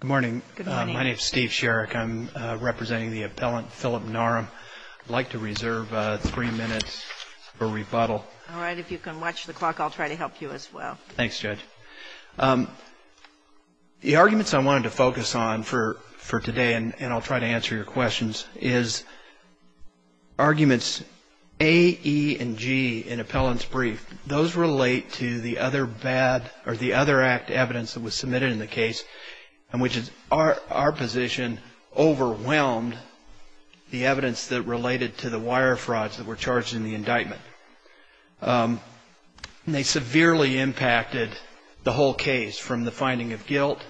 Good morning. My name is Steve Sherrick. I'm representing the appellant Phillip Narum. I'd like to reserve three minutes for rebuttal. All right. If you can watch the clock, I'll try to help you as well. Thanks, Judge. The arguments I wanted to focus on for today, and I'll try to answer your questions, is arguments A, E, and G in appellant's brief, those relate to the other bad, or the other act evidence that was submitted in the case, and which is our position, overwhelmed the evidence that related to the wire frauds that were charged in the indictment. And they severely impacted the whole case, from the finding of guilt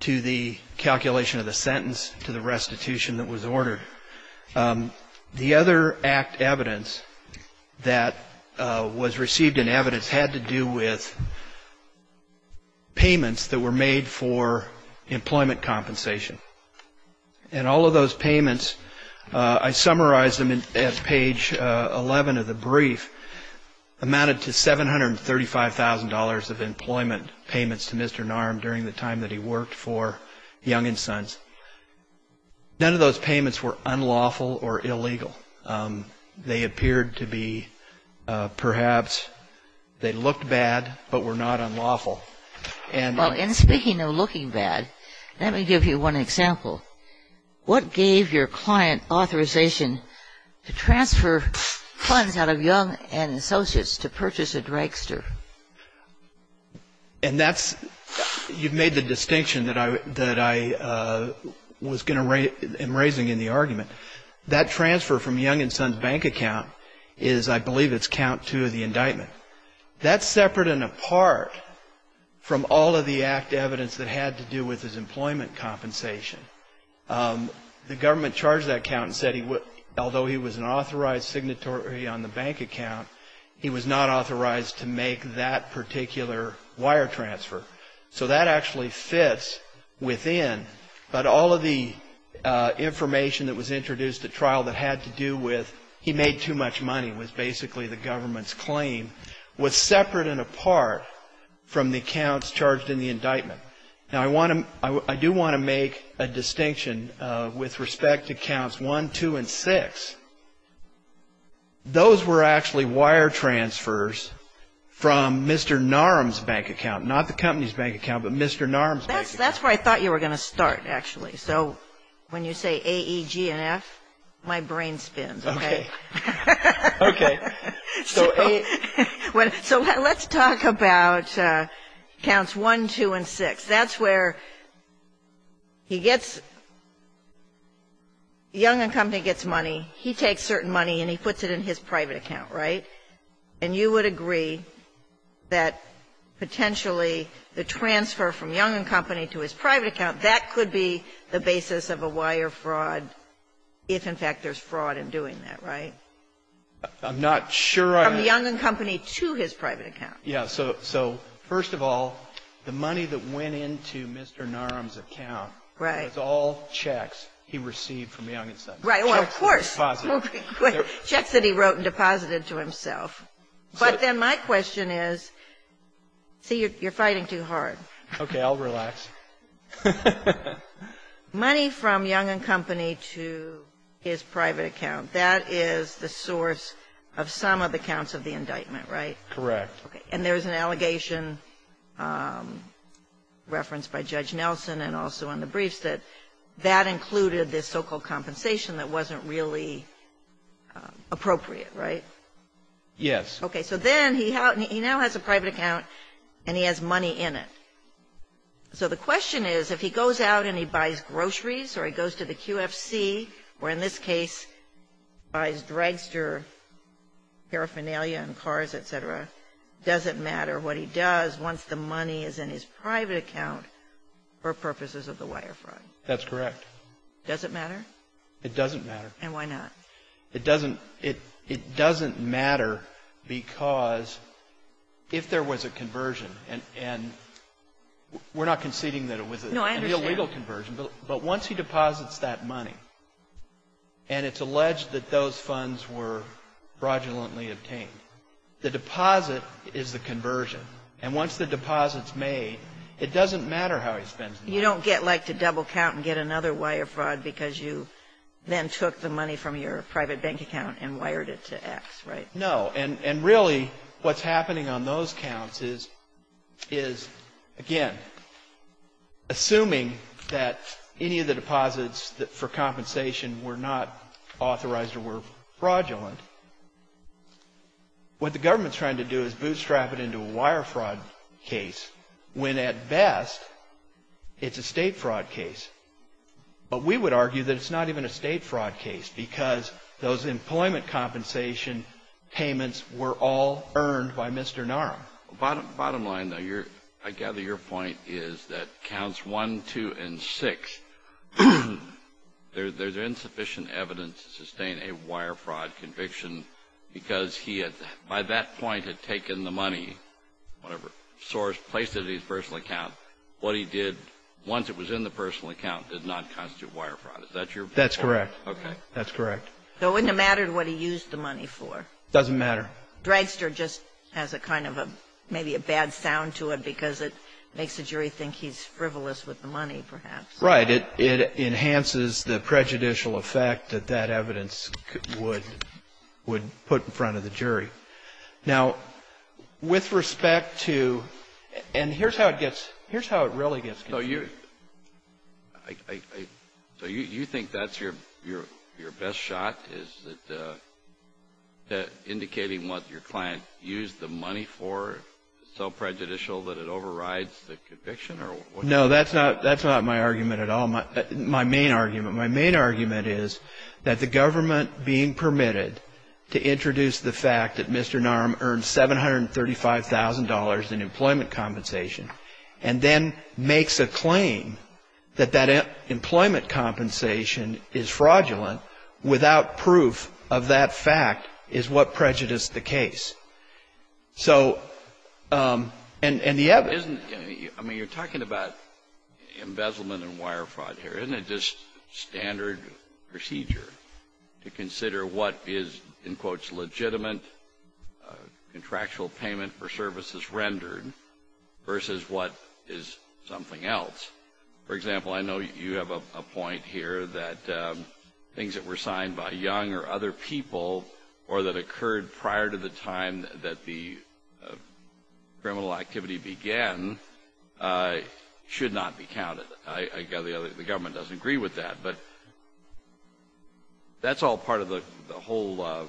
to the calculation of the sentence to the restitution that was ordered. The other act evidence that was received in evidence had to do with payments that were made for employment compensation. And all of those payments, I summarized them at page 11 of the brief, amounted to $735,000 of employment payments to Mr. Narum during the time that he worked for Young & Sons. None of those payments were unlawful or illegal. They appeared to be perhaps, they looked bad, but were not unlawful. Well, and speaking of looking bad, let me give you one example. What gave your client authorization to transfer funds out of Young & Associates to purchase a dragster? And that's, you've made the distinction that I was going to, am raising in the argument. That transfer from Young & Sons' bank account is, I believe it's count two of the indictment. That's separate and apart from all of the act evidence that had to do with his employment compensation. The government charged that count and said although he was an authorized signatory on the bank account, he was not authorized to make that particular wire transfer. So that actually fits within, but all of the information that was introduced at trial that had to do with, he made too much money, was basically the government's claim, was separate and apart from the counts charged in the indictment. Now, I do want to make a distinction with respect to counts one, two, and six. Those were actually wire transfers from Mr. Narum's bank account. Not the company's bank account, but Mr. Narum's bank account. That's where I thought you were going to start, actually. So when you say A, E, G, and F, my brain spins. Okay. Okay. So let's talk about counts one, two, and six. That's where he gets, Young and Company gets money. He takes certain money and he puts it in his private account, right? And you would agree that potentially the transfer from Young and Company to his private account, that could be the basis of a wire fraud if, in fact, there's fraud in doing that, right? I'm not sure I am. From Young and Company to his private account. Yeah. So first of all, the money that went into Mr. Narum's account was all checks he received from Young and Company. Right. Well, of course. Checks that he wrote and deposited to himself. But then my question is, see, you're fighting too hard. Okay. I'll relax. Money from Young and Company to his private account, that is the source of some of the counts of the indictment, right? Correct. And there's an allegation referenced by Judge Nelson and also in the briefs that that included this so-called compensation that wasn't really appropriate, right? Yes. Okay. So then he now has a private account and he has money in it. So the question is, if he goes out and he buys groceries or he goes to the QFC, where in this case buys dragster paraphernalia and cars, et cetera, does it matter what he does once the money is in his private account for purposes of the wire fraud? That's correct. Does it matter? It doesn't matter. And why not? It doesn't matter because if there was a conversion, and we're not conceding that it was a real legal conversion. No, I understand. But once he deposits that money, and it's alleged that those funds were fraudulently obtained, the deposit is the conversion. And once the deposit's made, it doesn't matter how he spends the money. You don't get like to double count and get another wire fraud because you then took the money from your private bank account and wired it to X, right? No. And really what's happening on those counts is, again, assuming that any of the deposits for compensation were not authorized or were fraudulent, what the government's trying to do is bootstrap it into a wire fraud case when at best it's a state fraud case. But we would argue that it's not even a state fraud case because those employment compensation payments were all earned by Mr. Naram. Bottom line, though, I gather your point is that counts 1, 2, and 6, there's insufficient evidence to sustain a wire fraud conviction because he, by that point, had taken the money, whatever, placed it in his personal account. What he did once it was in the personal account did not constitute wire fraud. Is that your point? That's correct. That's correct. So it wouldn't have mattered what he used the money for. It doesn't matter. Dragster just has a kind of a, maybe a bad sound to it because it makes the jury think he's frivolous with the money, perhaps. Right. It enhances the prejudicial effect that that evidence would put in front of the jury. Now, with respect to, and here's how it gets, here's how it really gets confused. So you think that's your best shot, is that indicating what your client used the money for is so prejudicial that it overrides the conviction? No, that's not my argument at all. My main argument. My main argument is that the government being permitted to introduce the fact that Mr. in employment compensation and then makes a claim that that employment compensation is fraudulent without proof of that fact is what prejudiced the case. So, and the evidence. Isn't, I mean, you're talking about embezzlement and wire fraud here. Isn't it just standard procedure to consider what is, in quotes, legitimate contractual payment for services rendered versus what is something else? For example, I know you have a point here that things that were signed by Young or other people or that occurred prior to the time that the criminal activity began should not be counted. I gather the government doesn't agree with that. But that's all part of the whole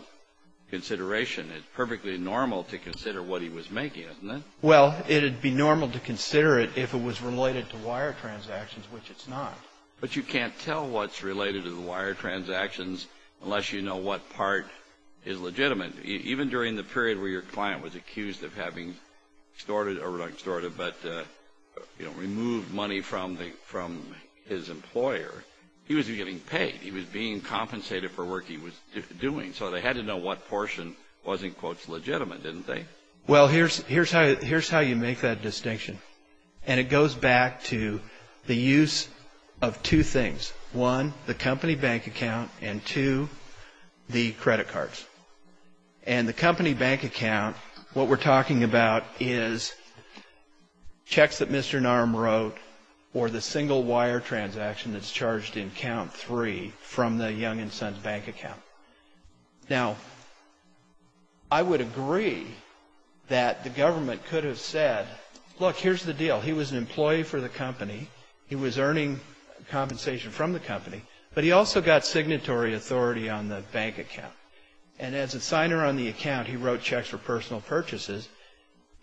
consideration. It's perfectly normal to consider what he was making, isn't it? Well, it'd be normal to consider it if it was related to wire transactions, which it's not. But you can't tell what's related to the wire transactions unless you know what part is legitimate. Even during the period where your client was accused of having extorted, but removed money from his employer, he was getting paid. He was being compensated for work he was doing. So they had to know what portion was, in quotes, legitimate, didn't they? Well, here's how you make that distinction. And it goes back to the use of two things. One, the company bank account, and two, the credit cards. And the company bank account, what we're talking about is checks that Mr. Narum wrote or the single wire transaction that's charged in count three from the Young & Sons bank account. Now, I would agree that the government could have said, look, here's the deal. He was an employee for the company. He was earning compensation from the company. But he also got signatory authority on the bank account. And as a signer on the account, he wrote checks for personal purchases.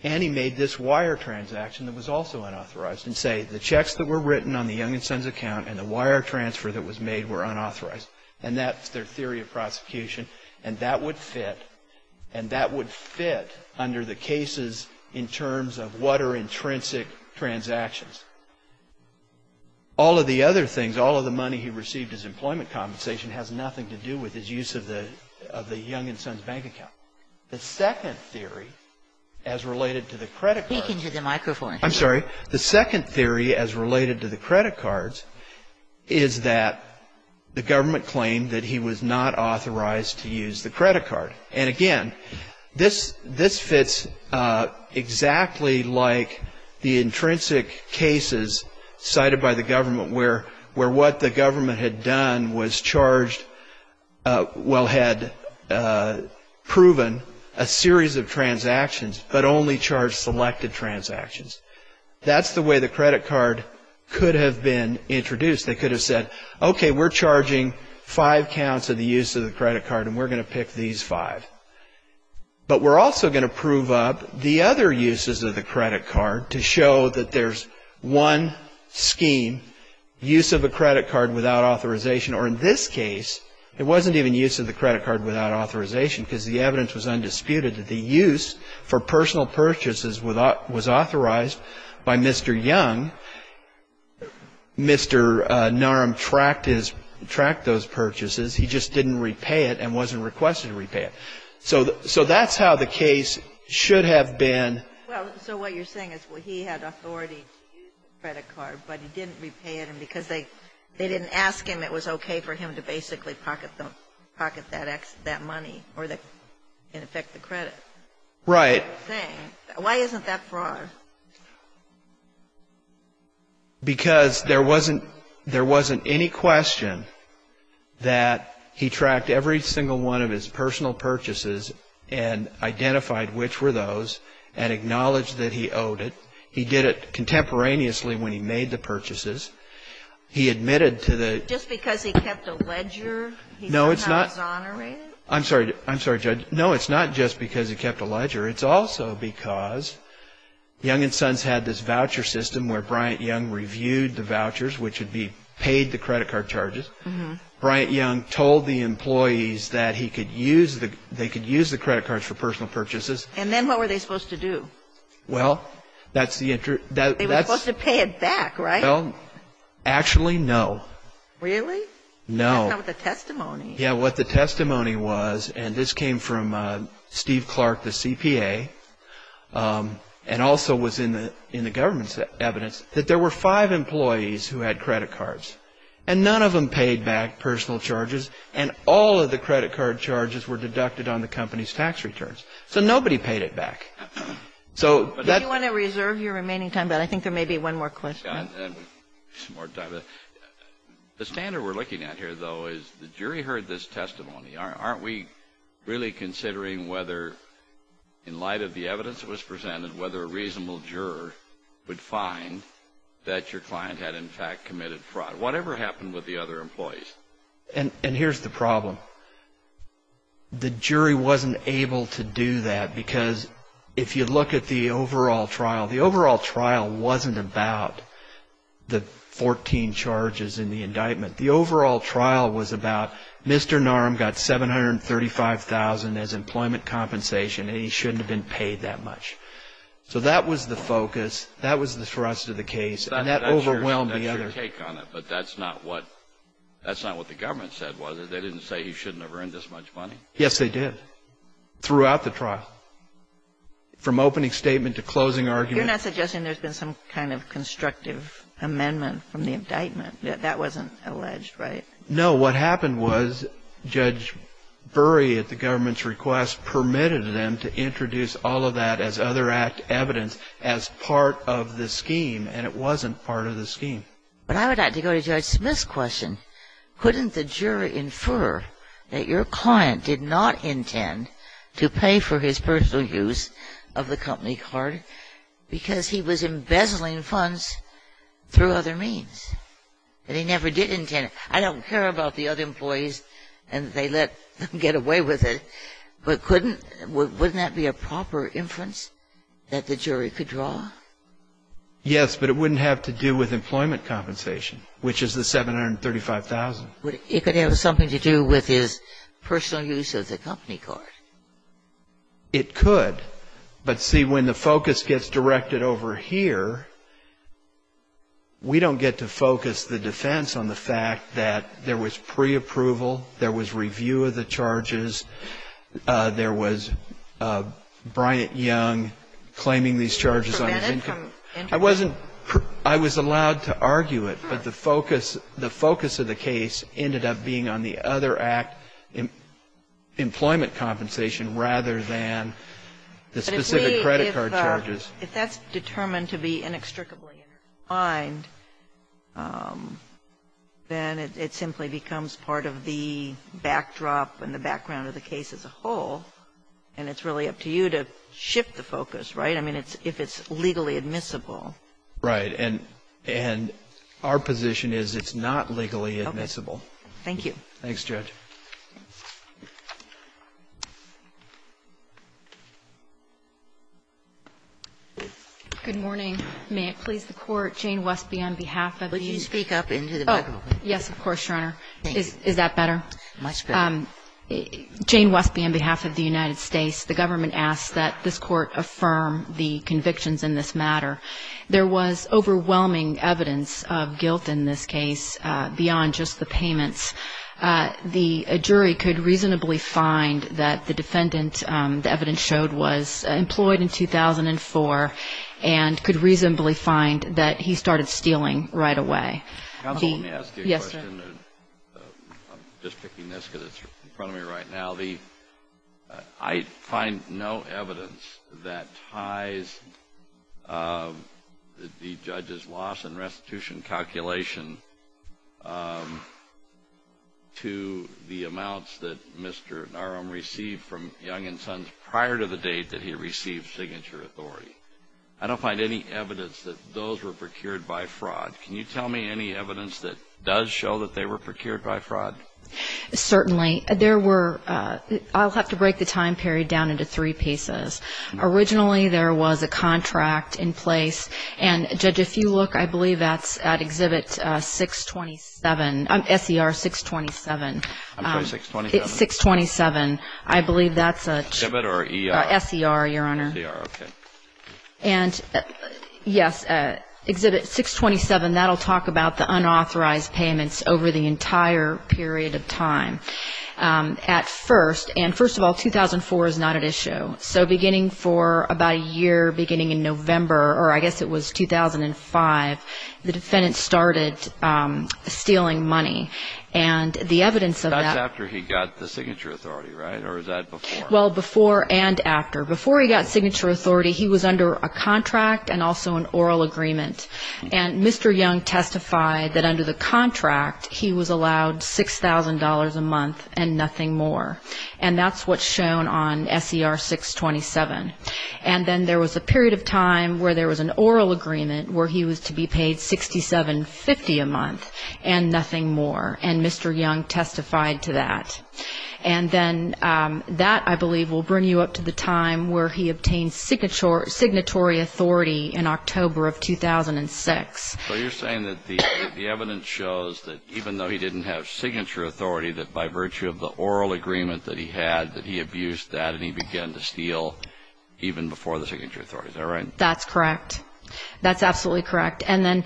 And he made this wire transaction that was also unauthorized. And say, the checks that were written on the Young & Sons account and the wire transfer that was made were unauthorized. And that's their theory of prosecution. And that would fit. And that would fit under the cases in terms of what are intrinsic transactions. All of the other things, all of the money he received as employment compensation has nothing to do with his use of the Young & Sons bank account. The second theory as related to the credit cards. Speak into the microphone. I'm sorry. The second theory as related to the credit cards is that the government claimed that he was not authorized to use the credit card. And again, this fits exactly like the intrinsic cases cited by the government where what the government had done was charged, well had proven a series of transactions but only charged selected transactions. That's the way the credit card could have been introduced. They could have said, okay, we're charging five counts of the use of the credit card and we're going to pick these five. But we're also going to prove up the other uses of the credit card to show that there's one scheme, use of a credit card without authorization. Or in this case, it wasn't even use of the credit card without authorization because the evidence was undisputed that the use for personal purchases was authorized by Mr. Young. Mr. Narum tracked those purchases. He just didn't repay it and wasn't requested to repay it. So that's how the case should have been. Well, so what you're saying is he had authority to use the credit card, but he didn't repay it. And because they didn't ask him, it was okay for him to basically pocket that money or in effect the credit. Right. Why isn't that fraud? Because there wasn't any question that he tracked every single one of his personal purchases and identified which were those and acknowledged that he owed it. He did it contemporaneously when he made the purchases. He admitted to the ---- Just because he kept a ledger, he somehow exonerated? I'm sorry, Judge. No, it's not just because he kept a ledger. It's also because Young & Sons had this voucher system where Bryant Young reviewed the vouchers, which would be paid the credit card charges. Bryant Young told the employees that they could use the credit cards for personal purchases. And then what were they supposed to do? Well, that's the ---- They were supposed to pay it back, right? Actually, no. Really? No. That's not what the testimony is. Yeah, what the testimony was, and this came from Steve Clark, the CPA, and also was in the government's evidence, that there were five employees who had credit cards. And none of them paid back personal charges. And all of the credit card charges were deducted on the company's tax returns. So nobody paid it back. So that ---- Do you want to reserve your remaining time? But I think there may be one more question. The standard we're looking at here, though, is the jury heard this testimony. Aren't we really considering whether, in light of the evidence that was presented, whether a reasonable juror would find that your client had, in fact, committed fraud? Whatever happened with the other employees? And here's the problem. The jury wasn't able to do that because if you look at the overall trial, the overall trial wasn't about the 14 charges in the indictment. The overall trial was about Mr. Narum got $735,000 as employment compensation, and he shouldn't have been paid that much. So that was the focus. That was the thrust of the case. And that overwhelmed the other ---- That's your take on it. But that's not what the government said, was it? They didn't say he shouldn't have earned this much money? Yes, they did, throughout the trial, from opening statement to closing argument. You're not suggesting there's been some kind of constructive amendment from the indictment? That wasn't alleged, right? No. What happened was Judge Burry, at the government's request, permitted them to introduce all of that as other act evidence as part of the scheme, and it wasn't part of the scheme. But I would like to go to Judge Smith's question. Couldn't the jury infer that your client did not intend to pay for his personal use of the company card? Because he was embezzling funds through other means, and he never did intend it. I don't care about the other employees and they let them get away with it, but couldn't ---- wouldn't that be a proper inference that the jury could draw? Yes, but it wouldn't have to do with employment compensation, which is the $735,000. It could have something to do with his personal use of the company card. It could. But, see, when the focus gets directed over here, we don't get to focus the defense on the fact that there was preapproval, there was review of the charges, there was Bryant Young claiming these charges on his income. I wasn't ---- I was allowed to argue it, but the focus of the case ended up being on the other act, employment compensation, rather than the specific credit card charges. But if we ---- if that's determined to be inextricably intertwined, then it simply becomes part of the backdrop and the background of the case as a whole, and it's really up to you to shift the focus, right? I mean, if it's legally admissible. Right. And our position is it's not legally admissible. Okay. Thank you. Thanks, Judge. Good morning. May it please the Court. Jane Westby on behalf of the U.S. Could you speak up into the microphone? Oh, yes, of course, Your Honor. Thank you. Is that better? Much better. Jane Westby on behalf of the United States. The government asks that this Court affirm the convictions in this matter. There was overwhelming evidence of guilt in this case beyond just the payments. The jury could reasonably find that the defendant, the evidence showed, was employed in 2004 and could reasonably find that he started stealing right away. Counsel, let me ask you a question. Yes, sir. I'm just picking this because it's in front of me right now. I find no evidence that ties the judge's loss and restitution calculation to the amounts that Mr. Narum received from Young & Sons prior to the date that he received signature authority. I don't find any evidence that those were procured by fraud. Can you tell me any evidence that does show that they were procured by fraud? Certainly. There were ‑‑ I'll have to break the time period down into three pieces. Originally, there was a contract in place, and, Judge, if you look, I believe that's at Exhibit 627, SER 627. I'm sorry, 627? 627. I believe that's a ‑‑ Exhibit or ER? SER, Your Honor. SER, okay. And, yes, Exhibit 627, that will talk about the unauthorized payments over the entire period of time. At first, and first of all, 2004 is not at issue. So beginning for about a year, beginning in November, or I guess it was 2005, the defendant started stealing money. And the evidence of that ‑‑ That's after he got the signature authority, right? Or was that before? Well, before and after. Before he got signature authority, he was under a contract and also an oral agreement. And Mr. Young testified that under the contract, he was allowed $6,000 a month and nothing more. And that's what's shown on SER 627. And then there was a period of time where there was an oral agreement where he was to be paid $6,750 a month and nothing more, and Mr. Young testified to that. And then that, I believe, will bring you up to the time where he obtained signatory authority in October of 2006. So you're saying that the evidence shows that even though he didn't have signature authority, that by virtue of the oral agreement that he had, that he abused that and he began to steal even before the signature authority. Is that right? That's correct. That's absolutely correct. And then,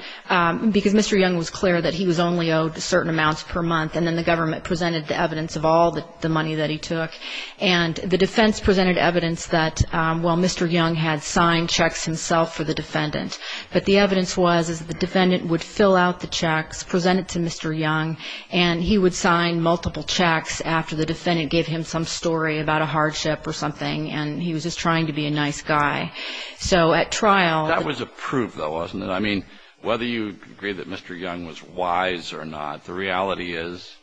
because Mr. Young was clear that he was only owed certain amounts per month and then the government presented the evidence of all the money that he took, and the defense presented evidence that, well, Mr. Young had signed checks himself for the defendant. But the evidence was that the defendant would fill out the checks, present it to Mr. Young, and he would sign multiple checks after the defendant gave him some story about a hardship or something, and he was just trying to be a nice guy. So at trial — That was a proof, though, wasn't it? I mean, whether you agree that Mr. Young was wise or not, the reality is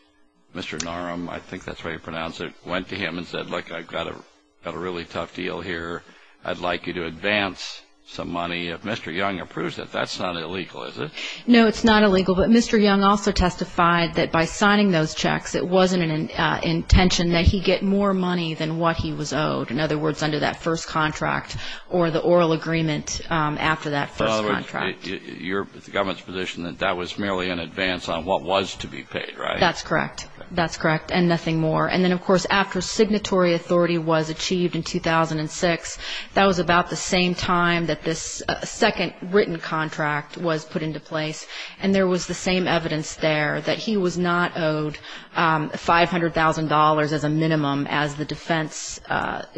Mr. Norum, I think that's how you pronounce it, went to him and said, look, I've got a really tough deal here. I'd like you to advance some money. If Mr. Young approves it, that's not illegal, is it? No, it's not illegal. But Mr. Young also testified that by signing those checks, it wasn't an intention that he get more money than what he was owed, in other words, under that first contract or the oral agreement after that first contract. In other words, the government's position that that was merely an advance on what was to be paid, right? That's correct. That's correct, and nothing more. And then, of course, after signatory authority was achieved in 2006, that was about the same time that this second written contract was put into place, and there was the same evidence there that he was not owed $500,000 as a minimum, as the defense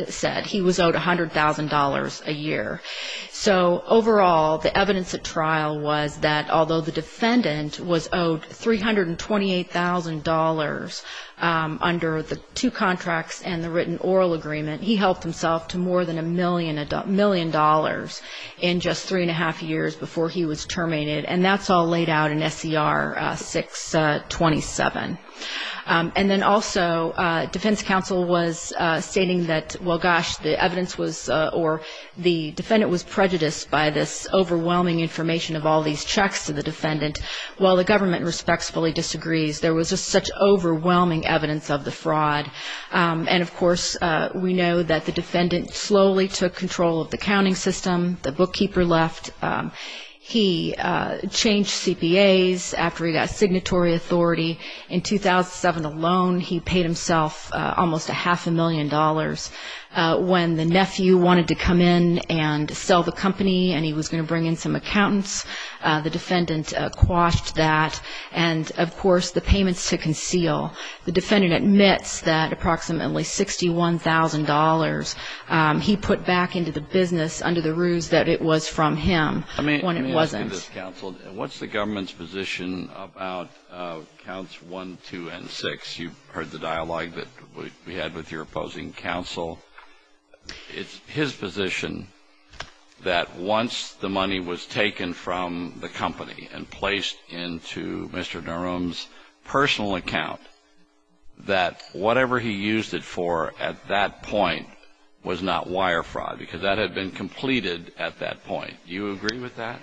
said. He was owed $100,000 a year. So overall, the evidence at trial was that although the defendant was owed $328,000 under the two contracts and the written oral agreement, he helped himself to more than a million dollars in just three and a half years before he was terminated, and that's all laid out in SCR 627. And then also, defense counsel was stating that, well, gosh, the evidence was or the defendant was prejudiced by this overwhelming information of all these checks to the defendant. Well, the government respectfully disagrees. There was just such overwhelming evidence of the fraud, and, of course, we know that the defendant slowly took control of the counting system. The bookkeeper left. He changed CPAs after he got signatory authority. In 2007 alone, he paid himself almost a half a million dollars. When the nephew wanted to come in and sell the company and he was going to bring in some accountants, the defendant quashed that, and, of course, the payments to conceal. The defendant admits that approximately $61,000 he put back into the business under the ruse that it was from him when it wasn't. Let me ask you this, counsel. What's the government's position about counts 1, 2, and 6? You heard the dialogue that we had with your opposing counsel. It's his position that once the money was taken from the company and placed into Mr. Naroom's personal account, that whatever he used it for at that point was not wire fraud because that had been completed at that point. Do you agree with that?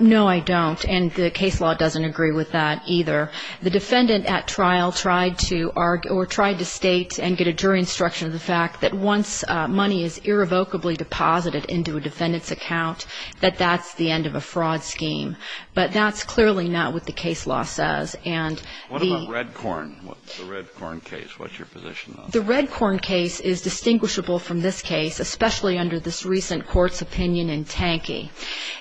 No, I don't, and the case law doesn't agree with that either. The defendant at trial tried to argue or tried to state and get a jury instruction of the fact that once money is irrevocably deposited into a defendant's account, that that's the end of a fraud scheme. But that's clearly not what the case law says. What about Redcorn, the Redcorn case? What's your position on that? The Redcorn case is distinguishable from this case, especially under this recent court's opinion in Tankey.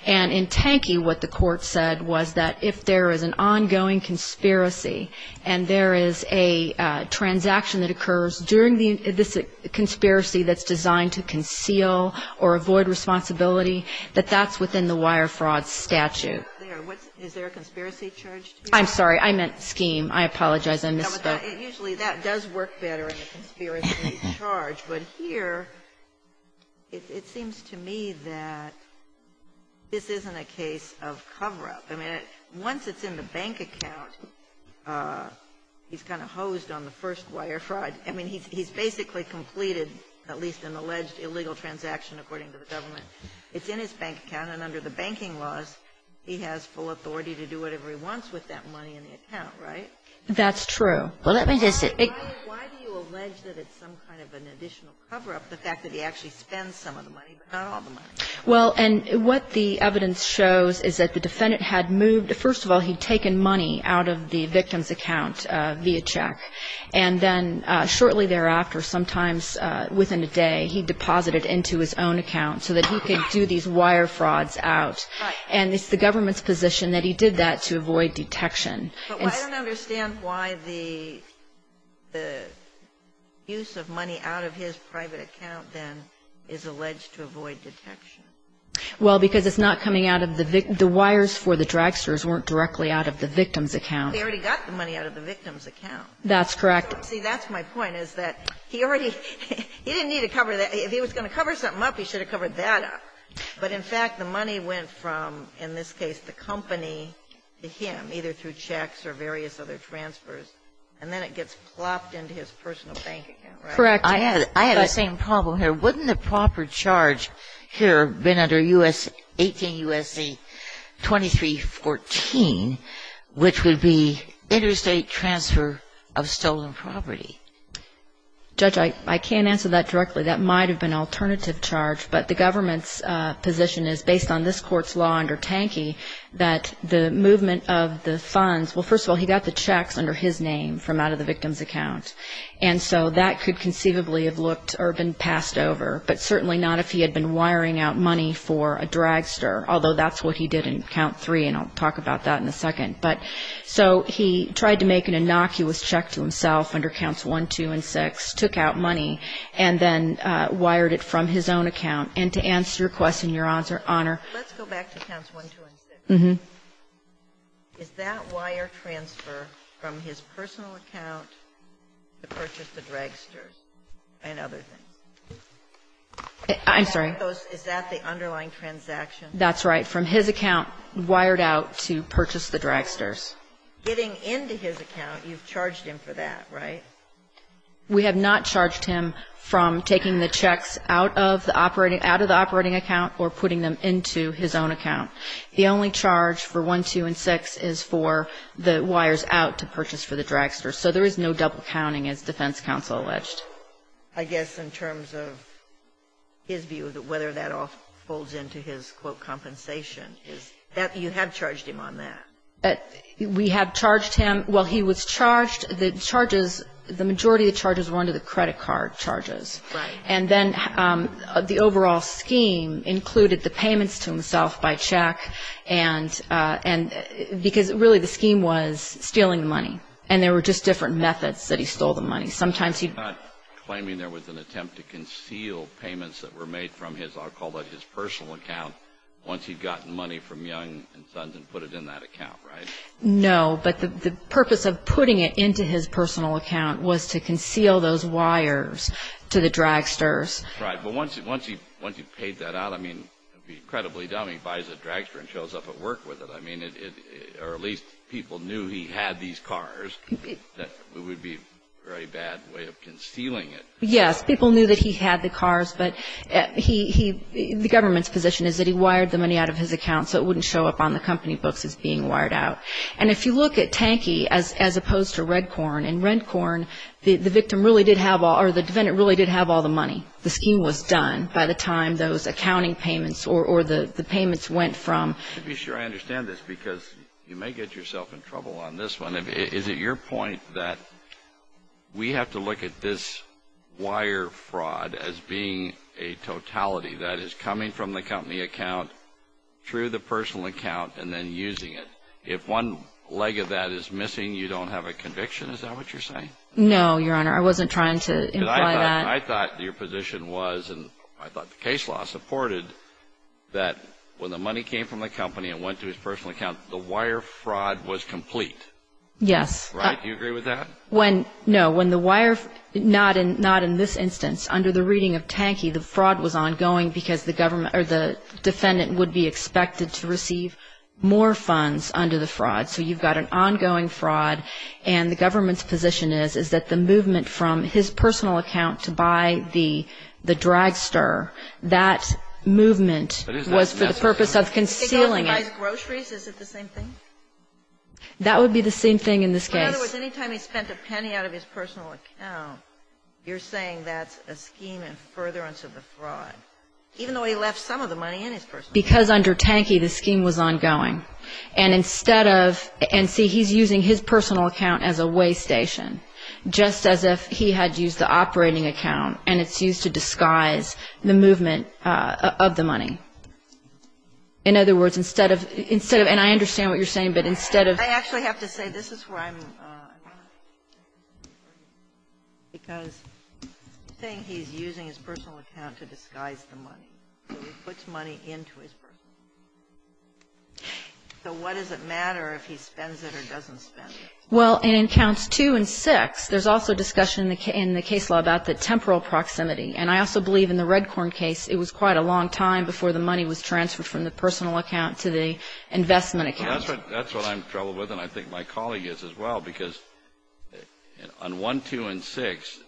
And in Tankey, what the court said was that if there is an ongoing conspiracy and there is a transaction that occurs during this conspiracy that's designed to conceal or avoid responsibility, that that's within the wire fraud statute. Is there a conspiracy charge? I'm sorry. I meant scheme. I apologize. Usually that does work better in a conspiracy charge. But here, it seems to me that this isn't a case of cover-up. I mean, once it's in the bank account, he's kind of hosed on the first wire fraud. I mean, he's basically completed at least an alleged illegal transaction, according to the government. It's in his bank account, and under the banking laws, he has full authority to do whatever he wants with that money in the account, right? That's true. Why do you allege that it's some kind of an additional cover-up, the fact that he actually spends some of the money, but not all the money? Well, and what the evidence shows is that the defendant had moved. First of all, he'd taken money out of the victim's account via check. And then shortly thereafter, sometimes within a day, he deposited into his own account so that he could do these wire frauds out. Right. And it's the government's position that he did that to avoid detection. But I don't understand why the use of money out of his private account, then, is alleged to avoid detection. Well, because it's not coming out of the victim's account. The wires for the dragsters weren't directly out of the victim's account. He already got the money out of the victim's account. That's correct. See, that's my point, is that he already he didn't need to cover that. If he was going to cover something up, he should have covered that up. And then it gets plopped into his personal bank account, right? Correct. I had the same problem here. Wouldn't the proper charge here have been under 18 U.S.C. 2314, which would be interstate transfer of stolen property? Judge, I can't answer that directly. That might have been an alternative charge. But the government's position is, based on this Court's law under Tankey, that the movement of the funds, well, first of all, he got the checks under his name from out of the victim's account. And so that could conceivably have looked or been passed over, but certainly not if he had been wiring out money for a dragster, although that's what he did in Count 3, and I'll talk about that in a second. But so he tried to make an innocuous check to himself under Counts 1, 2, and 6, took out money, and then wired it from his own account. And to answer your question, Your Honor, Let's go back to Counts 1, 2, and 6. Is that wire transfer from his personal account to purchase the dragsters and other things? I'm sorry? Is that the underlying transaction? That's right. From his account wired out to purchase the dragsters. Getting into his account, you've charged him for that, right? We have not charged him from taking the checks out of the operating account or putting them into his own account. The only charge for 1, 2, and 6 is for the wires out to purchase for the dragsters. So there is no double counting, as defense counsel alleged. I guess in terms of his view, whether that all folds into his, quote, compensation. You have charged him on that. We have charged him. Well, he was charged. The charges, the majority of the charges were under the credit card charges. Right. And then the overall scheme included the payments to himself by check because really the scheme was stealing the money. And there were just different methods that he stole the money. Sometimes he'd- You're not claiming there was an attempt to conceal payments that were made from his, I'll call that his personal account, once he'd gotten money from Young and Sons and put it in that account, right? No, but the purpose of putting it into his personal account was to conceal those wires to the dragsters. Right. But once he paid that out, I mean, it would be incredibly dumb. He buys a dragster and shows up at work with it. I mean, or at least people knew he had these cars. It would be a very bad way of concealing it. Yes, people knew that he had the cars, but the government's position is that he wired the money out of his account so it wouldn't show up on the company books as being wired out. And if you look at Tanky as opposed to Redcorn, in Redcorn the defendant really did have all the money. The scheme was done by the time those accounting payments or the payments went from- To be sure I understand this, because you may get yourself in trouble on this one, is it your point that we have to look at this wire fraud as being a totality that is coming from the company account through the personal account and then using it? If one leg of that is missing, you don't have a conviction? Is that what you're saying? No, Your Honor. I wasn't trying to imply that. I thought your position was, and I thought the case law supported, that when the money came from the company and went to his personal account, the wire fraud was complete. Yes. Right? Do you agree with that? No. Not in this instance. Under the reading of Tanky, the fraud was ongoing because the defendant would be expected to receive more funds under the fraud. So you've got an ongoing fraud, and the government's position is that the movement from his personal account to buy the dragster, that movement was for the purpose of concealing it. If he goes and buys groceries, is it the same thing? That would be the same thing in this case. In other words, any time he spent a penny out of his personal account, you're saying that's a scheme in furtherance of the fraud, even though he left some of the money in his personal account. Because under Tanky, the scheme was ongoing. And instead of – and see, he's using his personal account as a way station, just as if he had used the operating account, and it's used to disguise the movement of the money. In other words, instead of – and I understand what you're saying, but instead of – I actually have to say, this is where I'm – because you're saying he's using his personal account to disguise the money. So he puts money into his personal account. So what does it matter if he spends it or doesn't spend it? Well, in Accounts 2 and 6, there's also discussion in the case law about the temporal proximity. And I also believe in the Redcorn case, it was quite a long time before the money was transferred from the personal account to the investment account. Well, that's what – that's what I'm troubled with, and I think my colleague is as well, because on 1, 2, and 6,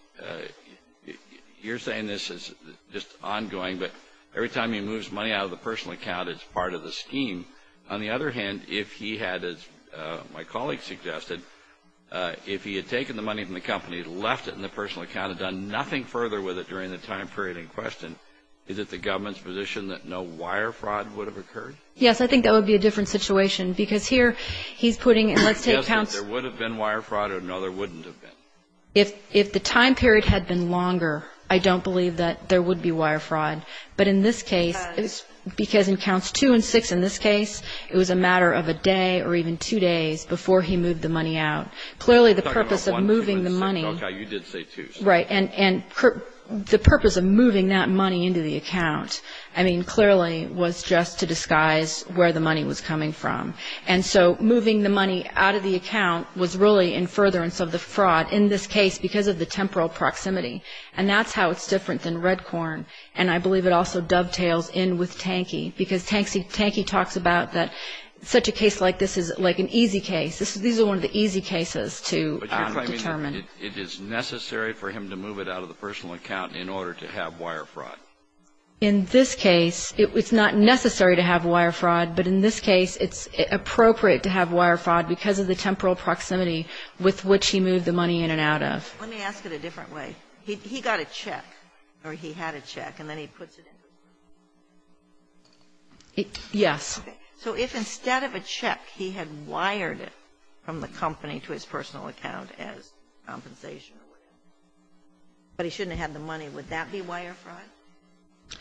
you're saying this is just ongoing, but every time he moves money out of the personal account, it's part of the scheme. On the other hand, if he had, as my colleague suggested, if he had taken the money from the company, left it in the personal account, and done nothing further with it during the time period in question, is it the government's position that no wire fraud would have occurred? Yes, I think that would be a different situation, because here he's putting it, let's take Accounts – Yes, but there would have been wire fraud or no, there wouldn't have been. If the time period had been longer, I don't believe that there would be wire fraud. But in this case, because in Accounts 2 and 6, in this case, it was a matter of a day or even two days before he moved the money out. We're talking about 1, 2, and 6. Clearly, the purpose of moving the money – Okay, you did say 2. Right. And the purpose of moving that money into the account, I mean, clearly, was just to disguise where the money was coming from. And so moving the money out of the account was really in furtherance of the fraud, in this case, because of the temporal proximity. And that's how it's different than Redcorn. And I believe it also dovetails in with Tankey, because Tankey talks about that such a case like this is like an easy case. These are one of the easy cases to determine. But you're claiming that it is necessary for him to move it out of the personal account in order to have wire fraud. In this case, it's not necessary to have wire fraud. But in this case, it's appropriate to have wire fraud because of the temporal proximity with which he moved the money in and out of. Let me ask it a different way. He got a check, or he had a check, and then he puts it in. Yes. So if instead of a check, he had wired it from the company to his personal account as compensation or whatever, but he shouldn't have had the money, would that be wire fraud?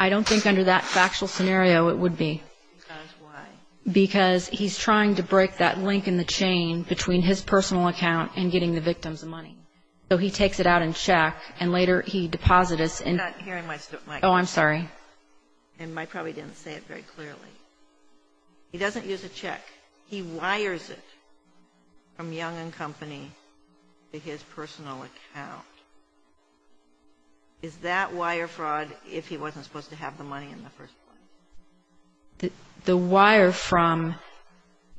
I don't think under that factual scenario it would be. Because why? Because he's trying to break that link in the chain between his personal account and getting the victim's money. So he takes it out in check, and later he deposits it. I'm not hearing myself. Oh, I'm sorry. And I probably didn't say it very clearly. He doesn't use a check. He wires it from Young and Company to his personal account. Is that wire fraud if he wasn't supposed to have the money in the first place? The wire from,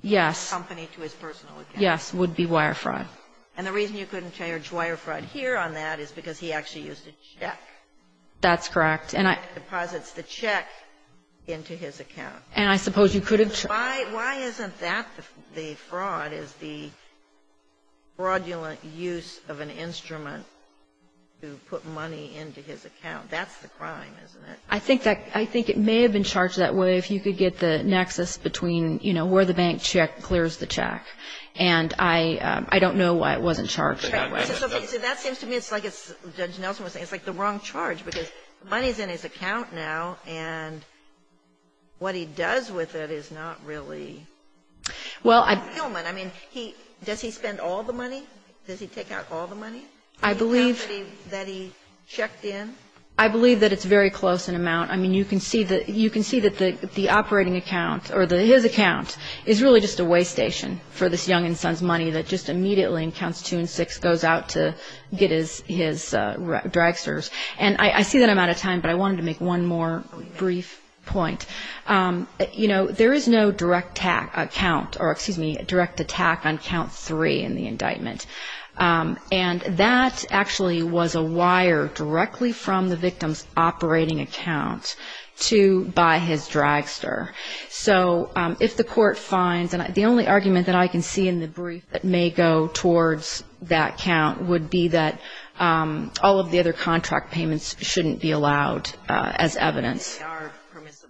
yes. Company to his personal account. Yes. Would be wire fraud. And the reason you couldn't charge wire fraud here on that is because he actually used a check. That's correct. He deposits the check into his account. And I suppose you could have charged. Why isn't that the fraud, is the fraudulent use of an instrument to put money into his account? That's the crime, isn't it? I think it may have been charged that way if you could get the nexus between, you know, where the bank check clears the check. And I don't know why it wasn't charged that way. So that seems to me it's like Judge Nelson was saying, it's like the wrong charge because money is in his account now and what he does with it is not really fulfillment. I mean, does he spend all the money? Does he take out all the money that he checked in? I believe that it's very close in amount. I mean, you can see that the operating account or his account is really just a way station for this Young & Sons money that just immediately in Counts 2 and 6 goes out to get his dragsters. And I see that I'm out of time, but I wanted to make one more brief point. You know, there is no direct count or, excuse me, direct attack on Count 3 in the indictment. And that actually was a wire directly from the victim's operating account to buy his dragster. So if the court finds, and the only argument that I can see in the brief that may go towards that count would be that all of the other contract payments shouldn't be allowed as evidence. They are permissible.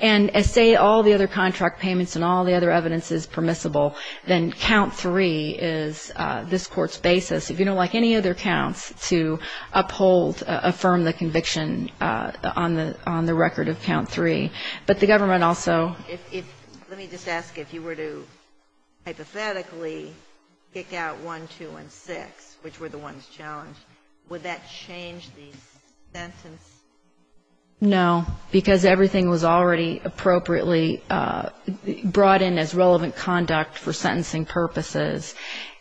And say all the other contract payments and all the other evidence is permissible, then Count 3 is this Court's basis, if you don't like any other counts, to uphold, affirm the conviction on the record of Count 3. But the government also ---- Let me just ask if you were to hypothetically kick out 1, 2, and 6, which were the ones challenged, would that change the sentence? No, because everything was already appropriately brought in as relevant conduct for sentencing purposes.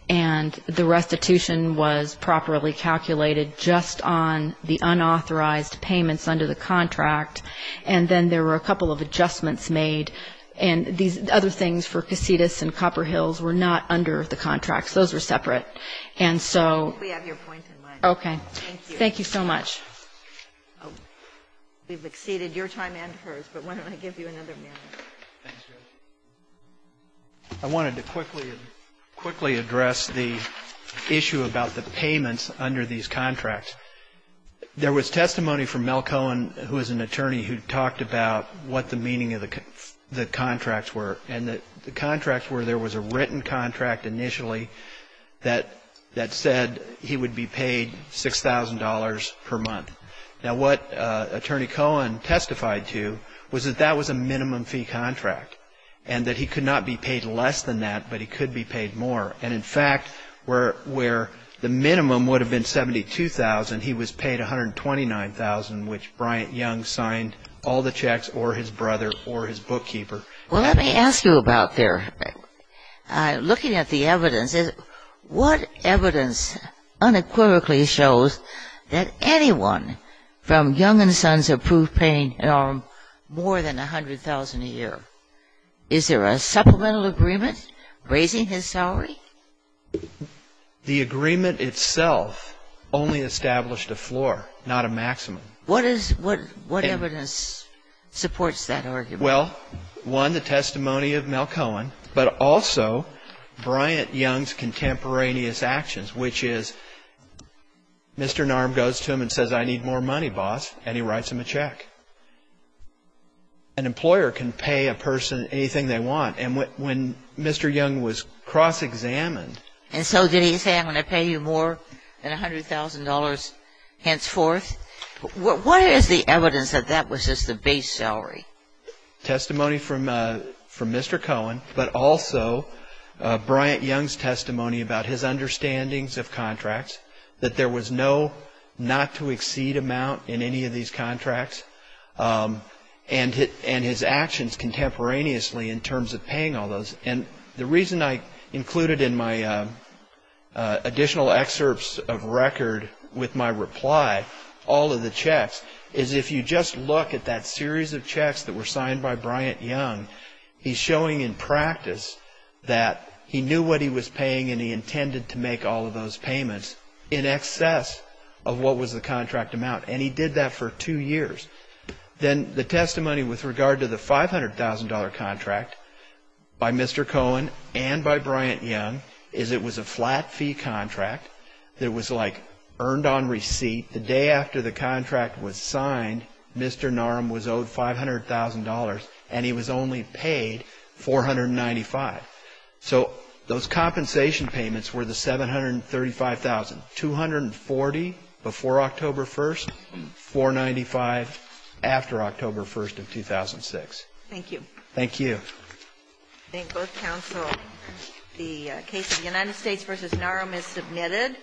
And the restitution was properly calculated just on the unauthorized payments under the contract. And then there were a couple of adjustments made. And these other things for Casitas and Copper Hills were not under the contracts. Those were separate. And so ---- We have your point in mind. Okay. Thank you so much. We've exceeded your time and hers, but why don't I give you another minute? I wanted to quickly address the issue about the payments under these contracts. There was testimony from Mel Cohen, who is an attorney, who talked about what the meaning of the contracts were. And the contracts were there was a written contract initially that said he would be paid $6,000 per month. Now, what Attorney Cohen testified to was that that was a minimum fee contract and that he could not be paid less than that, but he could be paid more. And, in fact, where the minimum would have been $72,000, he was paid $129,000, which Bryant Young signed all the checks or his brother or his bookkeeper. Well, let me ask you about there. Looking at the evidence, what evidence unequivocally shows that anyone from Young and Sons approved paying more than $100,000 a year? Is there a supplemental agreement raising his salary? The agreement itself only established a floor, not a maximum. What is what evidence supports that argument? Well, one, the testimony of Mel Cohen, but also Bryant Young's contemporaneous actions, which is Mr. Narm goes to him and says, I need more money, boss, and he writes him a check. An employer can pay a person anything they want, and when Mr. Young was cross-examined And so did he say, I'm going to pay you more than $100,000 henceforth? What is the evidence that that was just the base salary? Testimony from Mr. Cohen, but also Bryant Young's testimony about his understandings of these contracts and his actions contemporaneously in terms of paying all those. And the reason I included in my additional excerpts of record with my reply all of the checks is if you just look at that series of checks that were signed by Bryant Young, he's showing in practice that he knew what he was paying and he intended to make all of those payments in excess of what was the contract amount. And he did that for two years. Then the testimony with regard to the $500,000 contract by Mr. Cohen and by Bryant Young is it was a flat fee contract that was like earned on receipt. The day after the contract was signed, Mr. Narm was owed $500,000 and he was only paid $495,000. So those compensation payments were the $735,000. $240,000 before October 1st, $495,000 after October 1st of 2006. Thank you. Thank you. I thank both counsel. The case of United States v. Narm is submitted.